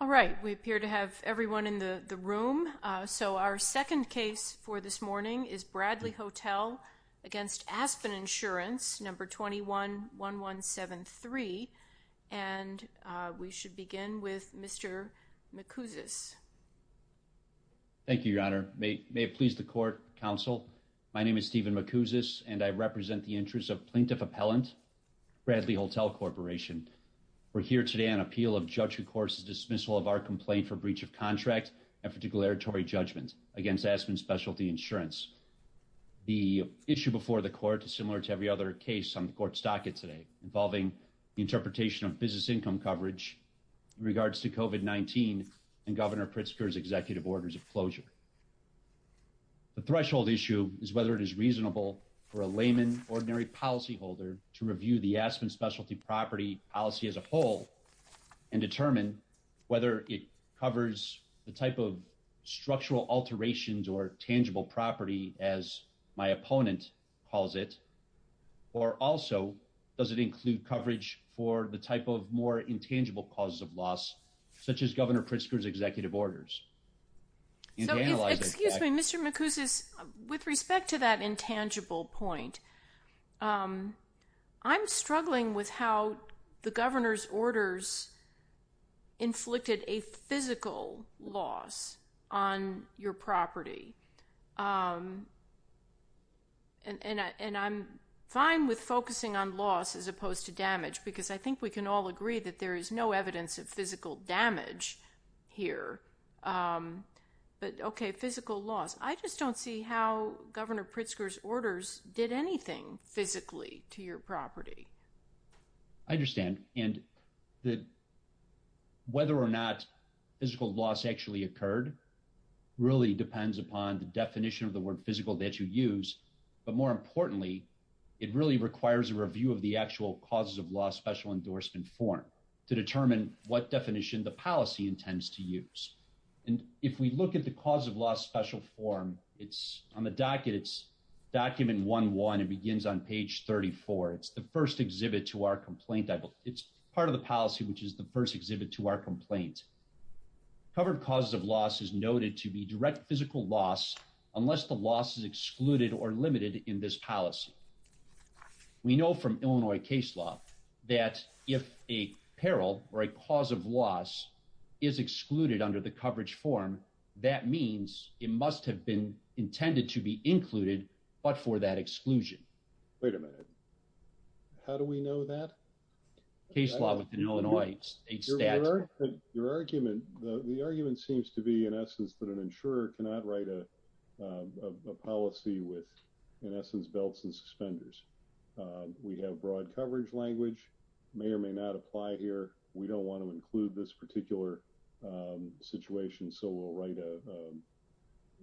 Alright, we appear to have everyone in the room. So, our second case for this morning is Bradley Hotel v. Aspen Insurance, No. 21-1173. And we should begin with Mr. McCousis. Thank you, Your Honor. May it please the Court, Counsel, my name is Stephen McCousis, and I represent the interests of Plaintiff Appellant, Bradley Hotel Corporation. We're here today on appeal of Judge Recourse's dismissal of our complaint for breach of contract and for declaratory judgment against Aspen Specialty Insurance. The issue before the Court is similar to every other case on the Court's docket today, involving the interpretation of business income coverage in regards to COVID-19 and Governor Pritzker's executive orders of closure. The threshold issue is whether it is reasonable for a layman, ordinary policyholder, to review the Aspen Specialty property policy as a whole and determine whether it covers the type of structural alterations or tangible property, as my opponent calls it, or also, does it include coverage for the type of more intangible causes of loss, such as Governor Pritzker's executive orders. So, excuse me, Mr. McCousis, with respect to that intangible point, I'm struggling with how the Governor's orders inflicted a physical loss on your property. And I'm fine with focusing on loss as opposed to damage, because I think we can all agree that there is no evidence of physical damage here. But, okay, physical loss. I just don't see how Governor Pritzker's orders did anything physically to your property. I understand. And whether or not physical loss actually occurred really depends upon the definition of the word physical that you use. But more importantly, it really requires a review of the actual causes of loss special endorsement form to determine what definition the policy intends to use. And if we look at the cause of loss special form, it's on the docket, it's document 1-1. It begins on page 34. It's the first exhibit to our complaint. It's part of the policy, which is the first exhibit to our complaint. Covered causes of loss is noted to be direct physical loss unless the loss is excluded or limited in this policy. We know from Illinois case law that if a peril or a cause of loss is excluded under the coverage form, that means it must have been intended to be included, but for that exclusion. Wait a minute. How do we know that? Your argument, the argument seems to be in essence that an insurer cannot write a policy with, in essence, belts and suspenders. We have broad coverage language, may or may not apply here. We don't want to include this particular situation, so we'll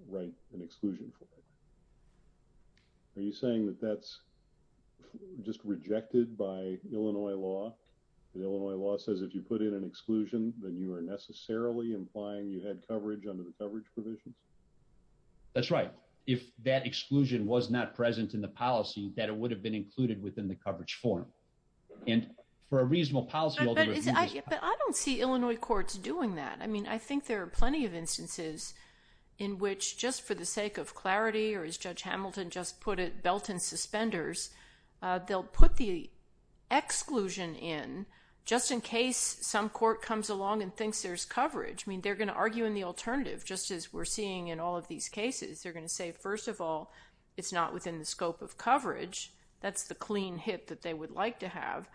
write an exclusion. Are you saying that that's just rejected by Illinois law? The Illinois law says if you put in an exclusion, then you are necessarily implying you had coverage under the coverage provision? That's right. If that exclusion was not present in the policy, that it would have been included within the coverage form. But I don't see Illinois courts doing that. I mean, I think there are plenty of instances in which just for the sake of clarity, or as Judge Hamilton just put it, belt and suspenders, they'll put the exclusion in just in case some court comes along and thinks there's coverage. I mean, they're going to argue in the alternative, just as we're seeing in all of these cases. They're going to say, first of all, it's not within the scope of coverage. That's the clean hit that they would like to have.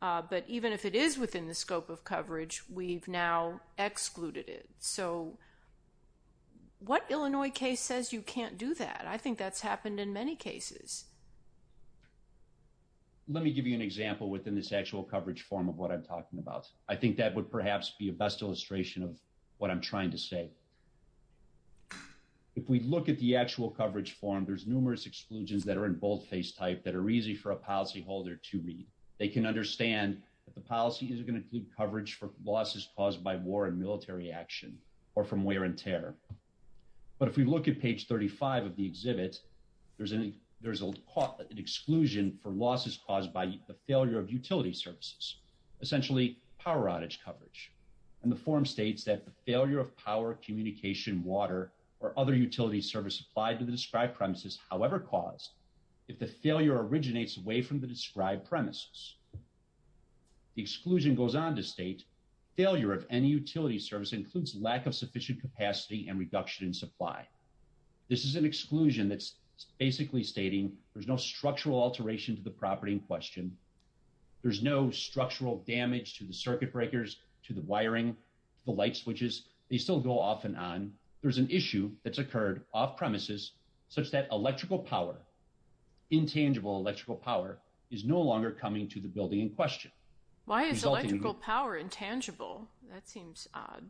But even if it is within the scope of coverage, we've now excluded it. So what Illinois case says you can't do that? I think that's happened in many cases. Let me give you an example within this actual coverage form of what I'm talking about. I think that would perhaps be a best illustration of what I'm trying to say. If we look at the actual coverage form, there's numerous exclusions that are in boldface type that are easy for a policyholder to read. They can understand that the policy is going to include coverage for losses caused by war and military action or from wear and tear. But if we look at page 35 of the exhibit, there's an exclusion for losses caused by the failure of utility services, essentially power outage coverage. And the form states that the failure of power, communication, water, or other utility service supplied to the described premises, however caused, if the failure originates away from the described premises. The exclusion goes on to state failure of any utility service includes lack of sufficient capacity and reduction in supply. This is an exclusion that's basically stating there's no structural alteration to the property in question. There's no structural damage to the circuit breakers, to the wiring, the light switches. They still go off and on. There's an issue that's occurred off premises such that electrical power, intangible electrical power, is no longer coming to the building in question. Why is electrical power intangible? That seems odd.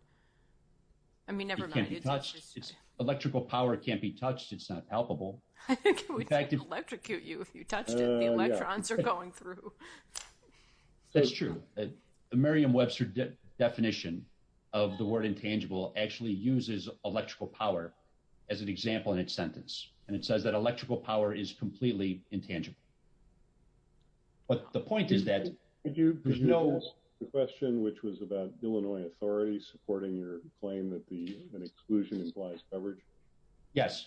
I mean, never mind. It can't be touched. Electrical power can't be touched. It's not palpable. I think we could electrocute you if you touched it. The electrons are going through. That's true. The Merriam-Webster definition of the word intangible actually uses electrical power as an example in its sentence. And it says that electrical power is completely intangible. But the point is that there's no... Could you address the question which was about Illinois authorities supporting your claim that the exclusion implies coverage? Yes. Yes.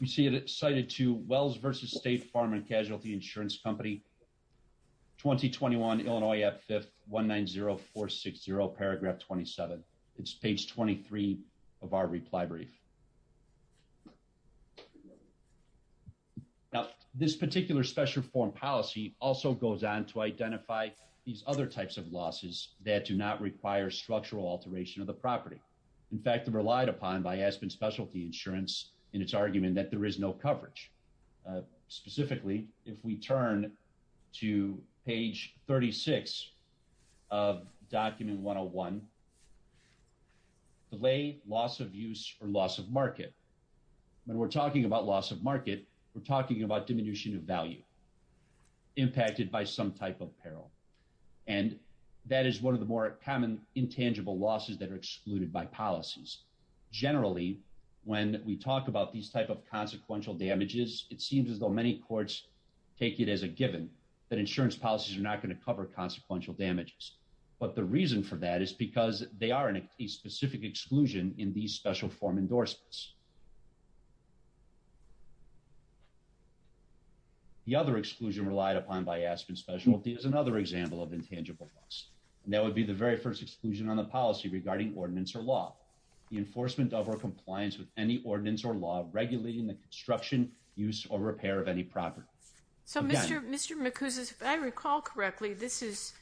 We see that it's cited to Wells v. State Farm and Casualty Insurance Company, 2021, Illinois, at 5th, 190460, paragraph 27. It's page 23 of our reply brief. Now, this particular special form policy also goes on to identify these other types of losses that do not require structural alteration of the property. In fact, they're relied upon by Aspen Specialty Insurance in its argument that there is no coverage. Specifically, if we turn to page 36 of document 101, delay, loss of use, or loss of market. When we're talking about loss of market, we're talking about diminution of value impacted by some type of peril. And that is one of the more common intangible losses that are excluded by policies. Generally, when we talk about these type of consequential damages, it seems as though many courts take it as a given that insurance policies are not going to cover consequential damages. But the reason for that is because they are in a specific exclusion in these special form endorsements. The other exclusion relied upon by Aspen Specialty is another example of intangible loss. And that would be the very first exclusion on the policy regarding ordinance or law. The enforcement of or compliance with any ordinance or law regulating the construction, use, or repair of any property. So, Mr. McCousins, if I recall correctly, this is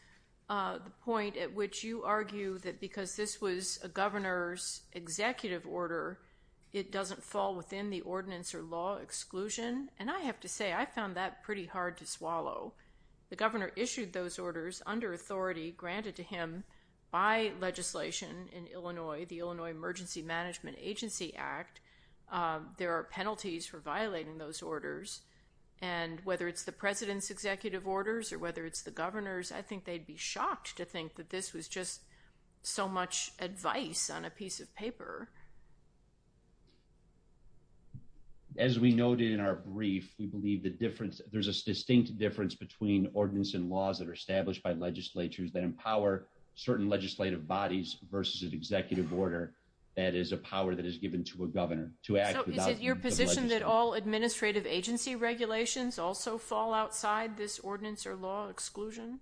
the point at which you argue that because this was a governor's executive order, it doesn't fall within the ordinance or law exclusion? And I have to say, I found that pretty hard to swallow. The governor issued those orders under authority granted to him by legislation in Illinois, the Illinois Emergency Management Agency Act. There are penalties for violating those orders. And whether it's the president's executive orders or whether it's the governor's, I think they'd be shocked to think that this was just so much advice on a piece of paper. As we noted in our brief, we believe the difference, there's a distinct difference between ordinance and laws that are established by legislatures that empower certain legislative bodies versus an executive order. That is a power that is given to a governor to act. Is it your position that all administrative agency regulations also fall outside this ordinance or law exclusion?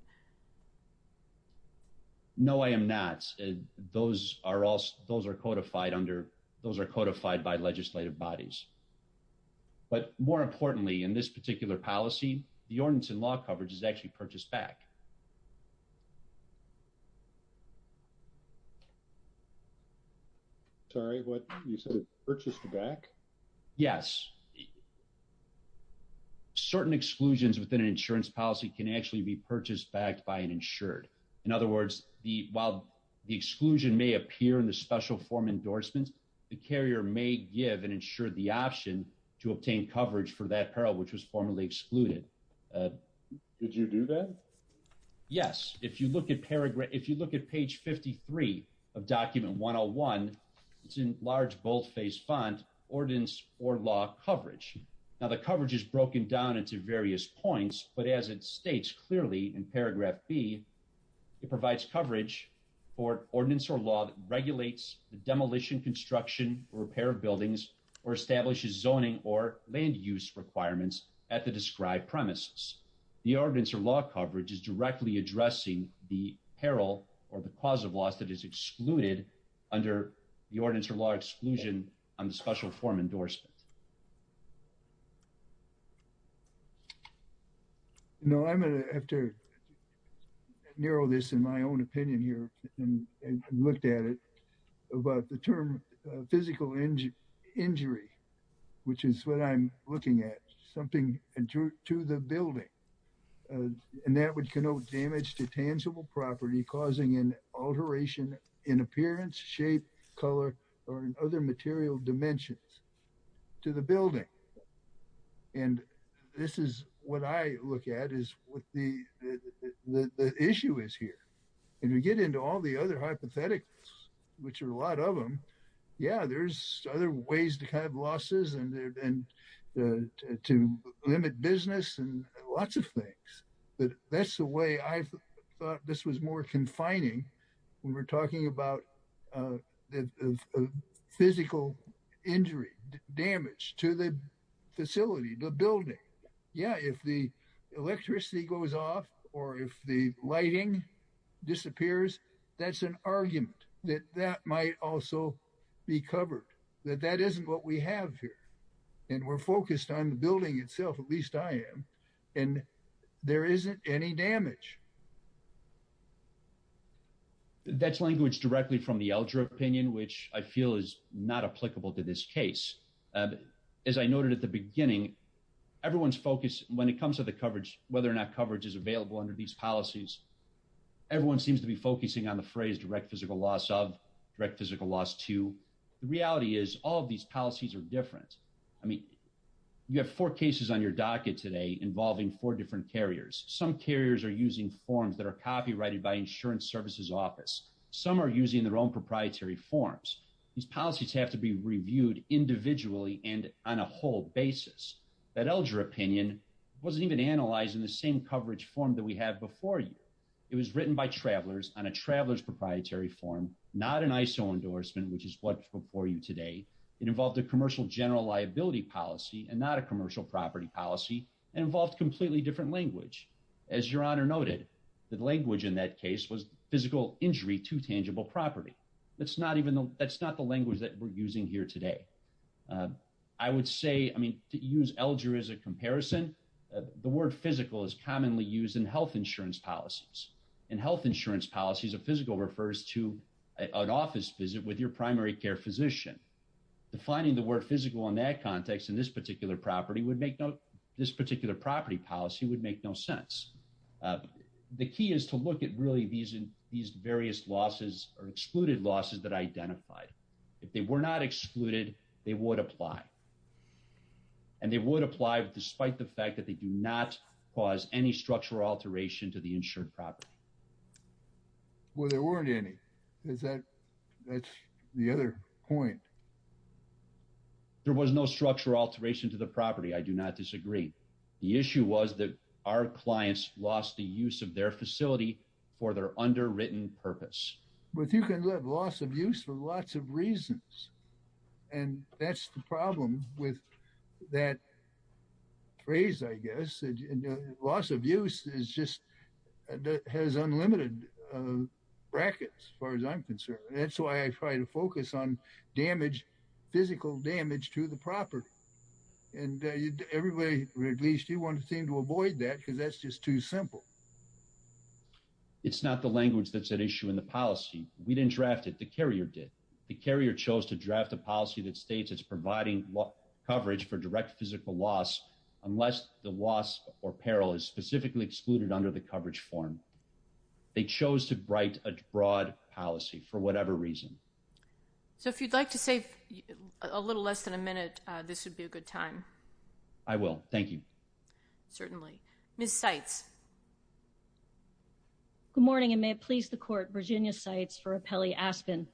No, I am not. Those are codified by legislative bodies. But more importantly, in this particular policy, the ordinance and law coverage is actually purchased back. Sorry, what? You said it's purchased back? Yes. Certain exclusions within an insurance policy can actually be purchased back by an insured. In other words, while the exclusion may appear in the special form endorsement, the carrier may give an insured the option to obtain coverage for that peril which was formerly excluded. Did you do that? Yes. If you look at paragraph, if you look at page 53 of document 101, it's in large boldface font, ordinance or law coverage. Now the coverage is broken down into various points, but as it states clearly in paragraph B, it provides coverage for ordinance or law that regulates the demolition, construction, repair buildings, or establishes zoning or land use requirements at the described premises. The ordinance or law coverage is directly addressing the peril or the cause of loss that is excluded under the ordinance or law exclusion on the special form endorsement. I'm sorry. I'm sorry. I'm sorry. I'm sorry. I'm sorry. I'm sorry. I'm sorry. No, I'm going to have to narrow this in my own opinion here and looked at it about the term physical injury. Which is what I'm looking at, something to the building. And that would connote damage to tangible property causing an alteration in appearance, shape, color, or other material dimensions to the building. And this is what I look at is what the issue is here. And we get into all the other hypotheticals, which are a lot of them. Yeah, there's other ways to have losses and to limit business and lots of things, but that's the way I thought this was more confining when we're talking about the physical injury damage to the facility, the building. Yeah, if the electricity goes off, or if the lighting disappears, that's an argument that that might also be covered that that isn't what we have here. And we're focused on the building itself. At least I am. And there isn't any damage. That's language directly from the elder opinion, which I feel is not applicable to this case. As I noted at the beginning, everyone's focus when it comes to the coverage, whether or not coverage is available under these policies. Everyone seems to be focusing on the phrase direct physical loss of direct physical loss to the reality is all of these policies are different. I mean, you have four cases on your docket today involving four different carriers, some carriers are using forms that are copyrighted by insurance services office. Some are using their own proprietary forms. These policies have to be reviewed individually and on a whole basis that elder opinion wasn't even analyzing the same coverage form that we have before you. It was written by travelers on a travelers proprietary form, not an ISO endorsement which is what before you today. It involved a commercial general liability policy and not a commercial property policy involved completely different language. As your honor noted that language in that case was physical injury to tangible property. That's not even though that's not the language that we're using here today. I would say, I mean, use elder as a comparison. The word physical is commonly used in health insurance policies and health insurance policies of physical refers to an office visit with your primary care physician, the finding the word physical in that context in this particular property policy would make no sense. The key is to look at really these various losses or excluded losses that identified. If they were not excluded, they would apply. And they would apply, despite the fact that they do not cause any structural alteration to the insured property. Well, there weren't any. Is that, that's the other point. There was no structural alteration to the property. I do not disagree. The issue was that our clients lost the use of their facility for their underwritten purpose with you can live loss of use for lots of reasons. And that's the problem with that phrase, I guess, loss of use is just has unlimited brackets, as far as I'm concerned. That's why I try to focus on damage physical damage to the property. And everybody, at least you want to seem to avoid that because that's just too simple. It's not the language that's an issue in the policy, we didn't draft it the carrier did the carrier chose to draft a policy that states it's providing coverage for direct physical loss, unless the loss or peril is specifically excluded under the coverage form. They chose to write a broad policy for whatever reason. So if you'd like to save a little less than a minute. This would be a good time. I will. Thank you. Certainly, Miss sites. Good morning and may it please the court Virginia sites for a Pele Aspen.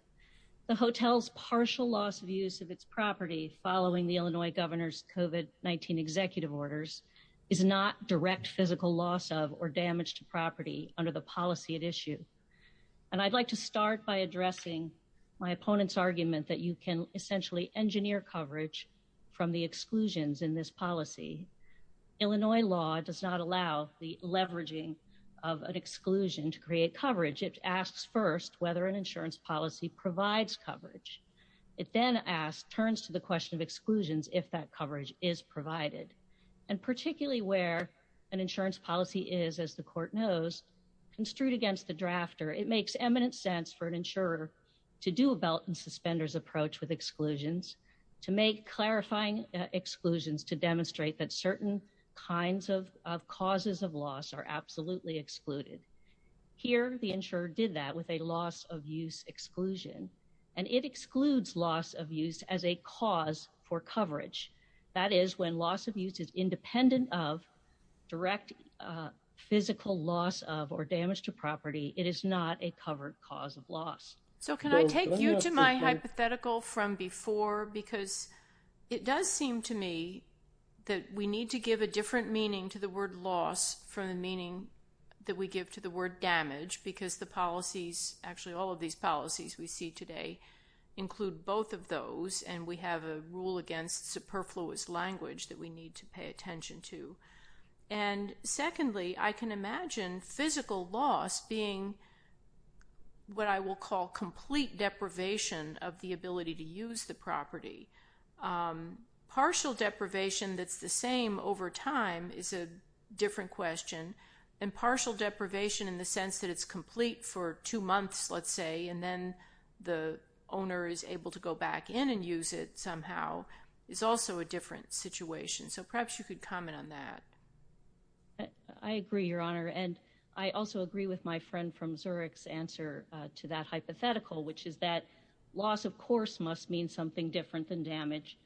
The hotels partial loss of use of its property, following the Illinois governor's coven 19 executive orders is not direct physical loss of or damage to property under the policy at issue. And I'd like to start by addressing my opponent's argument that you can essentially engineer coverage from the exclusions in this policy, Illinois law does not allow the leveraging of an exclusion to create coverage it asks first whether an insurance policy provides It then asked turns to the question of exclusions if that coverage is provided, and particularly where an insurance policy is as the court knows construed against the drafter it makes eminent sense for an insurer to do a belt and suspenders approach with exclusions to make clarifying exclusions to demonstrate that certain kinds of causes of loss are absolutely excluded. Here, the insurer did that with a loss of use exclusion, and it excludes loss of use as a cause for coverage. That is when loss of use is independent of direct physical loss of or damage to property, it is not a covered cause of loss. So can I take you to my hypothetical from before because it does seem to me that we need to give a different meaning to the word loss for the meaning that we give to the word damage because the policies actually all of these policies we see today include both of those and we have a rule against superfluous language that we need to pay attention to. And secondly, I can imagine physical loss being what I will call complete deprivation of the ability to use the property. Partial deprivation that's the same over time is a different question and partial deprivation in the sense that it's complete for two months let's say and then the owner is able to go back in and use it somehow is also a different situation. So perhaps you could comment on that. I agree, Your Honor, and I also agree with my friend from Zurich's answer to that hypothetical, which is that loss, of course, must mean something different than damage.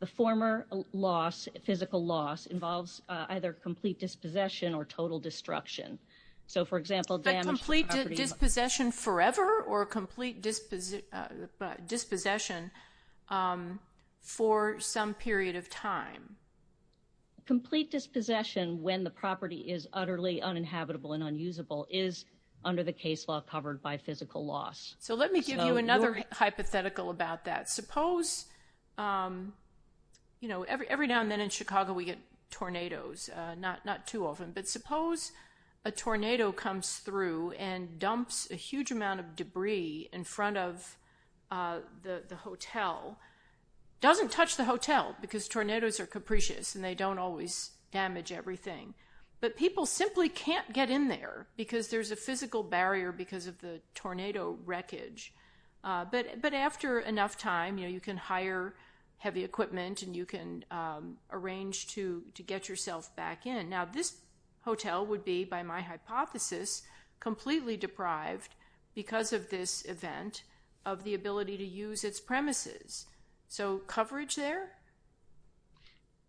The former loss physical loss involves either complete dispossession or total destruction. So, for example, complete dispossession forever or complete disposition dispossession for some period of time. Complete dispossession when the property is utterly uninhabitable and unusable is under the case law covered by physical loss. So let me give you another hypothetical about that. Suppose, you know, every now and then in Chicago we get tornadoes, not too often, but suppose a tornado comes through and dumps a huge amount of debris in front of the hotel. It doesn't touch the hotel because tornadoes are capricious and they don't always damage everything. But people simply can't get in there because there's a physical barrier because of the tornado wreckage. But after enough time, you know, you can hire heavy equipment and you can arrange to get yourself back in. Now, this hotel would be, by my hypothesis, completely deprived because of this event of the ability to use its premises. So coverage there?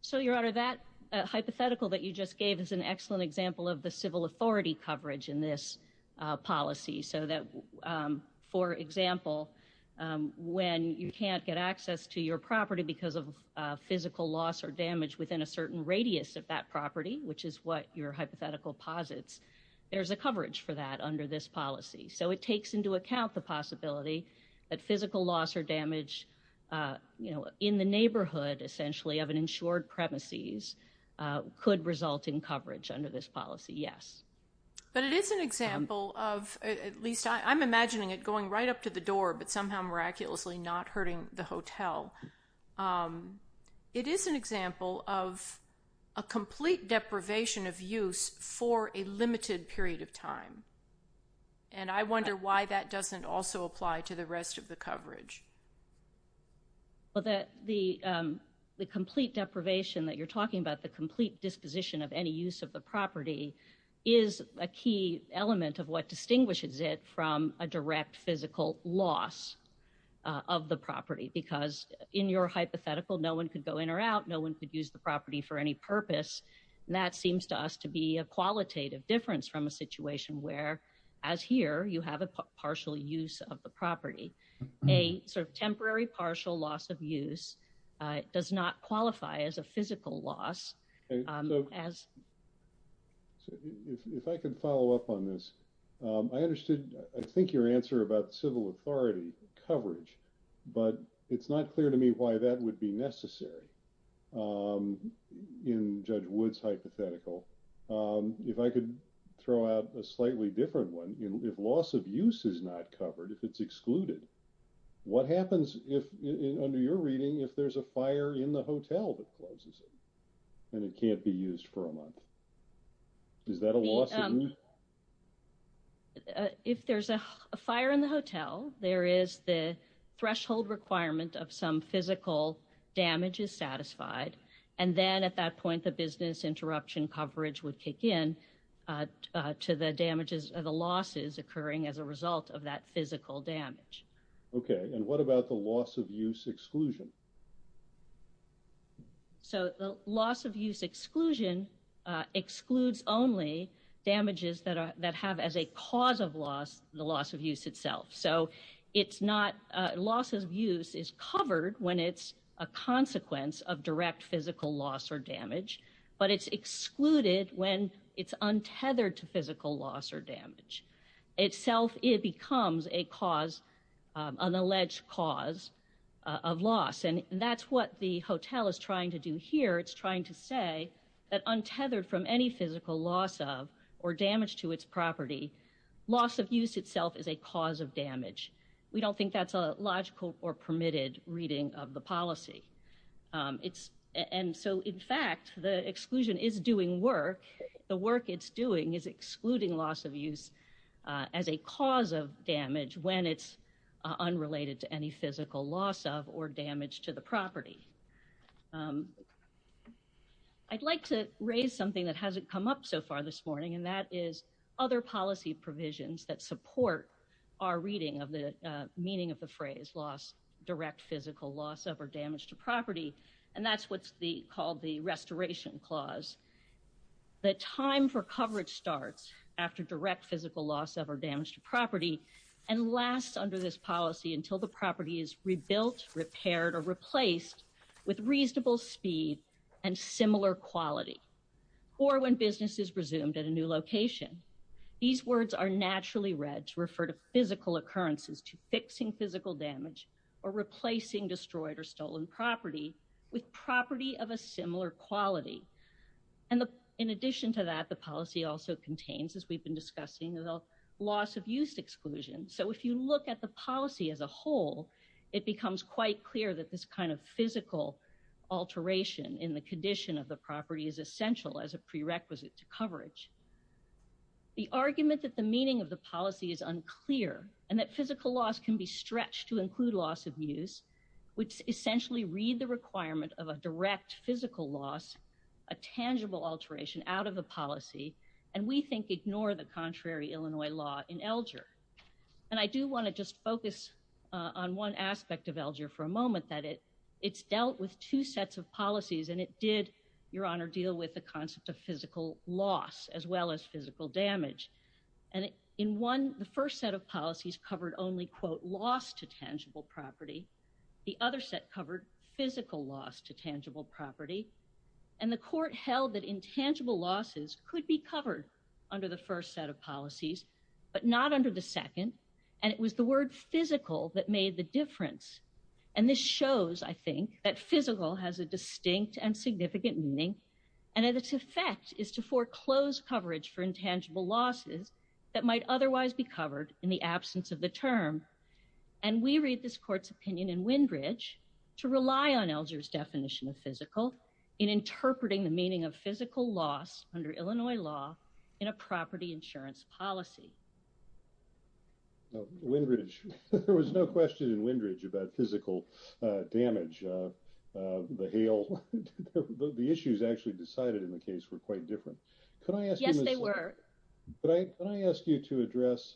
So, Your Honor, that hypothetical that you just gave is an excellent example of the civil authority coverage in this policy. So that, for example, when you can't get access to your property because of physical loss or damage within a certain radius of that property, which is what your hypothetical posits, there's a coverage for that under this policy. So it takes into account the possibility that physical loss or damage, you know, in the neighborhood essentially of an insured premises could result in coverage under this policy. Yes. But it is an example of, at least I'm imagining it going right up to the door, but somehow miraculously not hurting the hotel. It is an example of a complete deprivation of use for a limited period of time. And I wonder why that doesn't also apply to the rest of the coverage. Well, the complete deprivation that you're talking about, the complete disposition of any use of the property, is a key element of what distinguishes it from a direct physical loss of the property. Because in your hypothetical, no one could go in or out, no one could use the property for any purpose. And that seems to us to be a qualitative difference from a situation where, as here, you have a partial use of the property. A sort of temporary partial loss of use does not qualify as a physical loss. If I can follow up on this. I understood, I think your answer about civil authority coverage, but it's not clear to me why that would be necessary. In Judge Wood's hypothetical. If I could throw out a slightly different one, if loss of use is not covered, if it's excluded, what happens if, under your reading, if there's a fire in the hotel that causes it? And it can't be used for a month. Is that a loss of use? If there's a fire in the hotel, there is the threshold requirement of some physical damage is satisfied. And then at that point, the business interruption coverage would kick in to the damages of the losses occurring as a result of that physical damage. Okay. And what about the loss of use exclusion? So the loss of use exclusion excludes only damages that have as a cause of loss, the loss of use itself. So it's not, loss of use is covered when it's a consequence of direct physical loss or damage, but it's excluded when it's untethered to physical loss or damage. Itself, it becomes a cause, an alleged cause of loss, and that's what the hotel is trying to do here. It's trying to say that untethered from any physical loss of or damage to its property, loss of use itself is a cause of damage. We don't think that's a logical or permitted reading of the policy. And so, in fact, the exclusion is doing work. The work it's doing is excluding loss of use as a cause of damage when it's unrelated to any physical loss of or damage to the property. I'd like to raise something that hasn't come up so far this morning, and that is other policy provisions that support our reading of the meaning of the phrase direct physical loss of or damage to property, and that's what's called the restoration clause. The time for coverage starts after direct physical loss of or damage to property and lasts under this policy until the property is rebuilt, repaired, or replaced with reasonable speed and similar quality, or when business is resumed at a new location. These words are naturally read to refer to physical occurrences to fixing physical damage or replacing destroyed or stolen property with property of a similar quality. And in addition to that, the policy also contains, as we've been discussing, loss of use exclusion. So if you look at the policy as a whole, it becomes quite clear that this kind of physical alteration in the condition of the property is essential as a prerequisite to coverage. The argument that the meaning of the policy is unclear and that physical loss can be stretched to include loss of use, which essentially read the requirement of a direct physical loss, a tangible alteration out of the policy, and we think ignore the contrary as well as physical damage. And in one, the first set of policies covered only quote loss to tangible property. The other set covered physical loss to tangible property, and the court held that intangible losses could be covered under the first set of policies, but not close coverage for intangible losses that might otherwise be covered in the absence of the term. And we read this court's opinion in Windridge to rely on elders definition of physical in interpreting the meaning of physical loss under Illinois law in a property insurance policy. Windridge, there was no question in Windridge about physical damage. The hail. The issues actually decided in the case were quite different. Can I ask you to address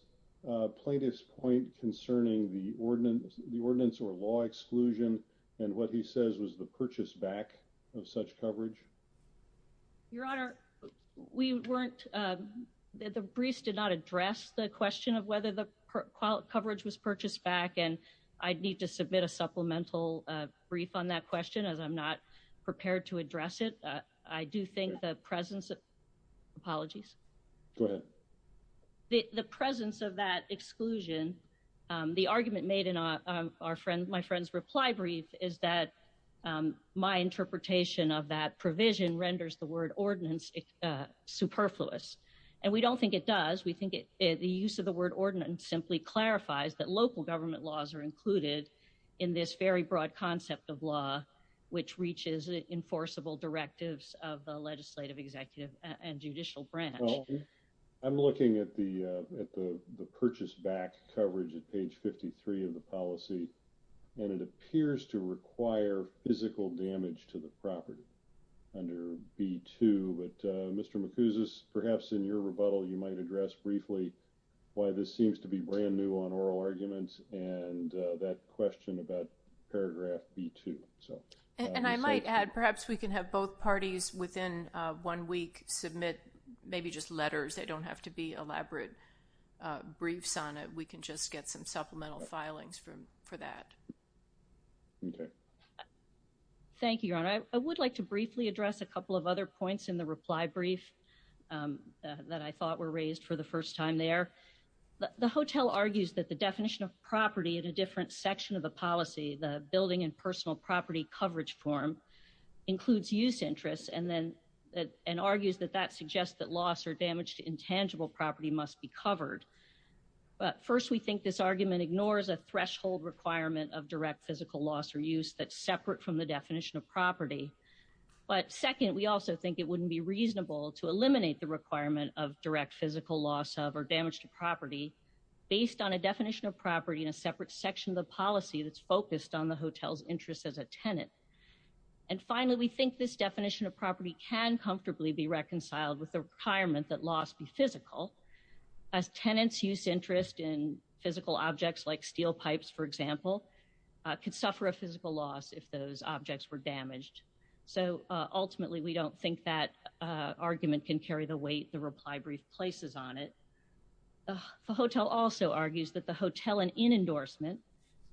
plaintiff's point concerning the ordinance, the ordinance or law exclusion, and what he says was the purchase back of such coverage. Your Honor. We weren't the briefs did not address the question of whether the coverage was purchased back and I'd need to submit a supplemental brief on that question as I'm not prepared to address it. I do think the presence of apologies. The presence of that exclusion. The argument made in our friend my friends reply brief is that my interpretation of that provision renders the word ordinance superfluous, and we don't think it does we think it is the use of the word ordinance simply clarifies that local government laws are included in this very broad concept of law, which reaches enforceable directives of the legislative executive and judicial branch. I'm looking at the, at the, the purchase back coverage at page 53 of the policy. And it appears to require physical damage to the property. And I might add perhaps we can have both parties within one week, submit, maybe just letters, they don't have to be elaborate briefs on it, we can just get some supplemental filings from for that. Okay. Thank you. I would like to briefly address a couple of other points in the reply brief that I thought were raised for the first time there. The hotel argues that the definition of property at a different section of the policy the building and personal property coverage form includes use interests and then that and argues that that suggests that loss or damage to intangible property must be covered. But first we think this argument ignores a threshold requirement of direct physical loss or use that separate from the definition of property. But second, we also think it wouldn't be reasonable to eliminate the requirement of direct physical loss of or damage to property, based on a definition of property in a separate section of the policy that's focused on the hotels interest as a tenant. And finally, we think this definition of property can comfortably be reconciled with the retirement that loss be physical as tenants use interest in physical objects like steel pipes, for example, could suffer a physical loss if those objects were damaged. So, ultimately, we don't think that argument can carry the weight the reply brief places on it. The hotel also argues that the hotel and in endorsement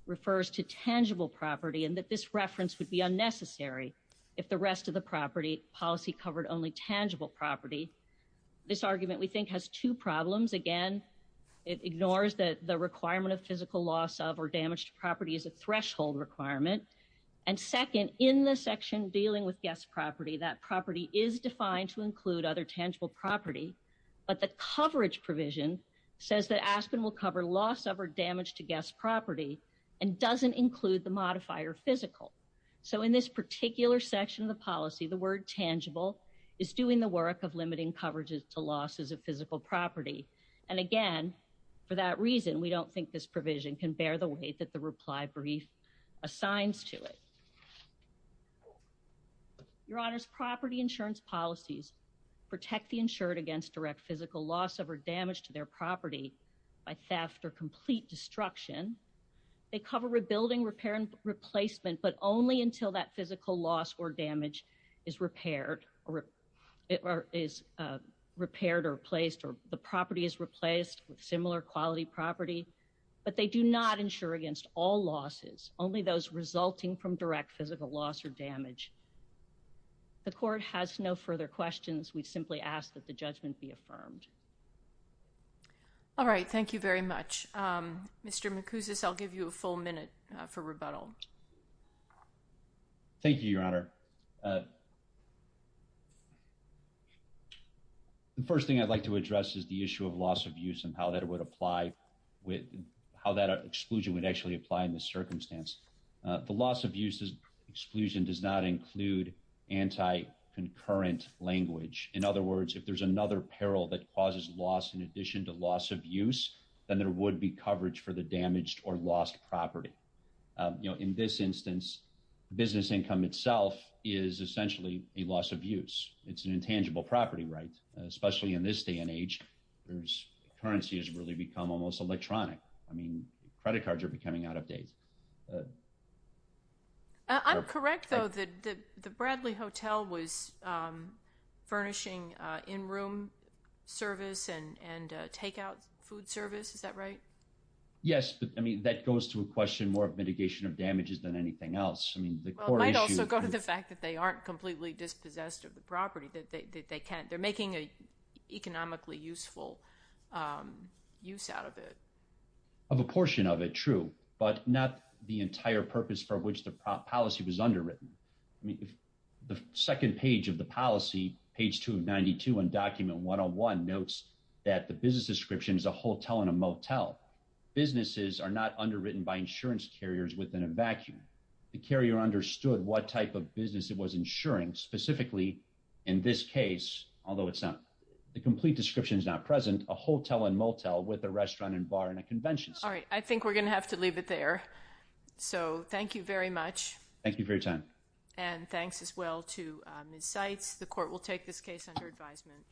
refers to tangible property and that this reference would be unnecessary. If the rest of the property policy covered only tangible property. This argument we think has two problems again. It ignores that the requirement of physical loss of or damage to property is a threshold requirement. And second, in the section dealing with guest property that property is defined to include other tangible property, but the coverage provision says that Aspen will cover loss of or damage to guest property and doesn't include the modifier physical. So in this particular section of the policy the word tangible is doing the work of limiting coverages to losses of physical property. And again, for that reason we don't think this provision can bear the weight that the reply brief assigns to it. Your Honor's property insurance policies, protect the insured against direct physical loss of or damage to their property by theft or complete destruction. They cover rebuilding repair and replacement but only until that physical loss or damage is repaired or is repaired or placed or the property is replaced with similar quality property. But they do not ensure against all losses, only those resulting from direct physical loss or damage. The court has no further questions we simply asked that the judgment be affirmed. All right, thank you very much. Mr. Macuses I'll give you a full minute for rebuttal. Thank you, Your Honor. The first thing I'd like to address is the issue of loss of use and how that would apply with how that exclusion would actually apply in this circumstance. The loss of uses exclusion does not include anti concurrent language. In other words, if there's another peril that causes loss in addition to loss of use, then there would be coverage for the damaged or lost property. You know, in this instance, business income itself is essentially a loss of use, it's an intangible property right, especially in this day and age, there's currency has really become almost electronic. I mean, credit cards are becoming out of date. I'm correct though that the Bradley Hotel was furnishing in room service and and takeout food service is that right. Yes, but I mean that goes to a question more of mitigation of damages than anything else. I mean, the core issue go to the fact that they aren't completely dispossessed of the property that they can't they're making a economically useful use out of it. Of a portion of it true, but not the entire purpose for which the policy was underwritten. The second page of the policy page 292 and document one on one notes that the business description is a hotel and a motel businesses are not underwritten by insurance carriers within a vacuum. The carrier understood what type of business it was insuring specifically in this case, although it's not the complete description is not present a hotel and motel with a restaurant and bar and a convention. All right, I think we're going to have to leave it there. So thank you very much. Thank you for your time. And thanks as well to insights the court will take this case under advisement.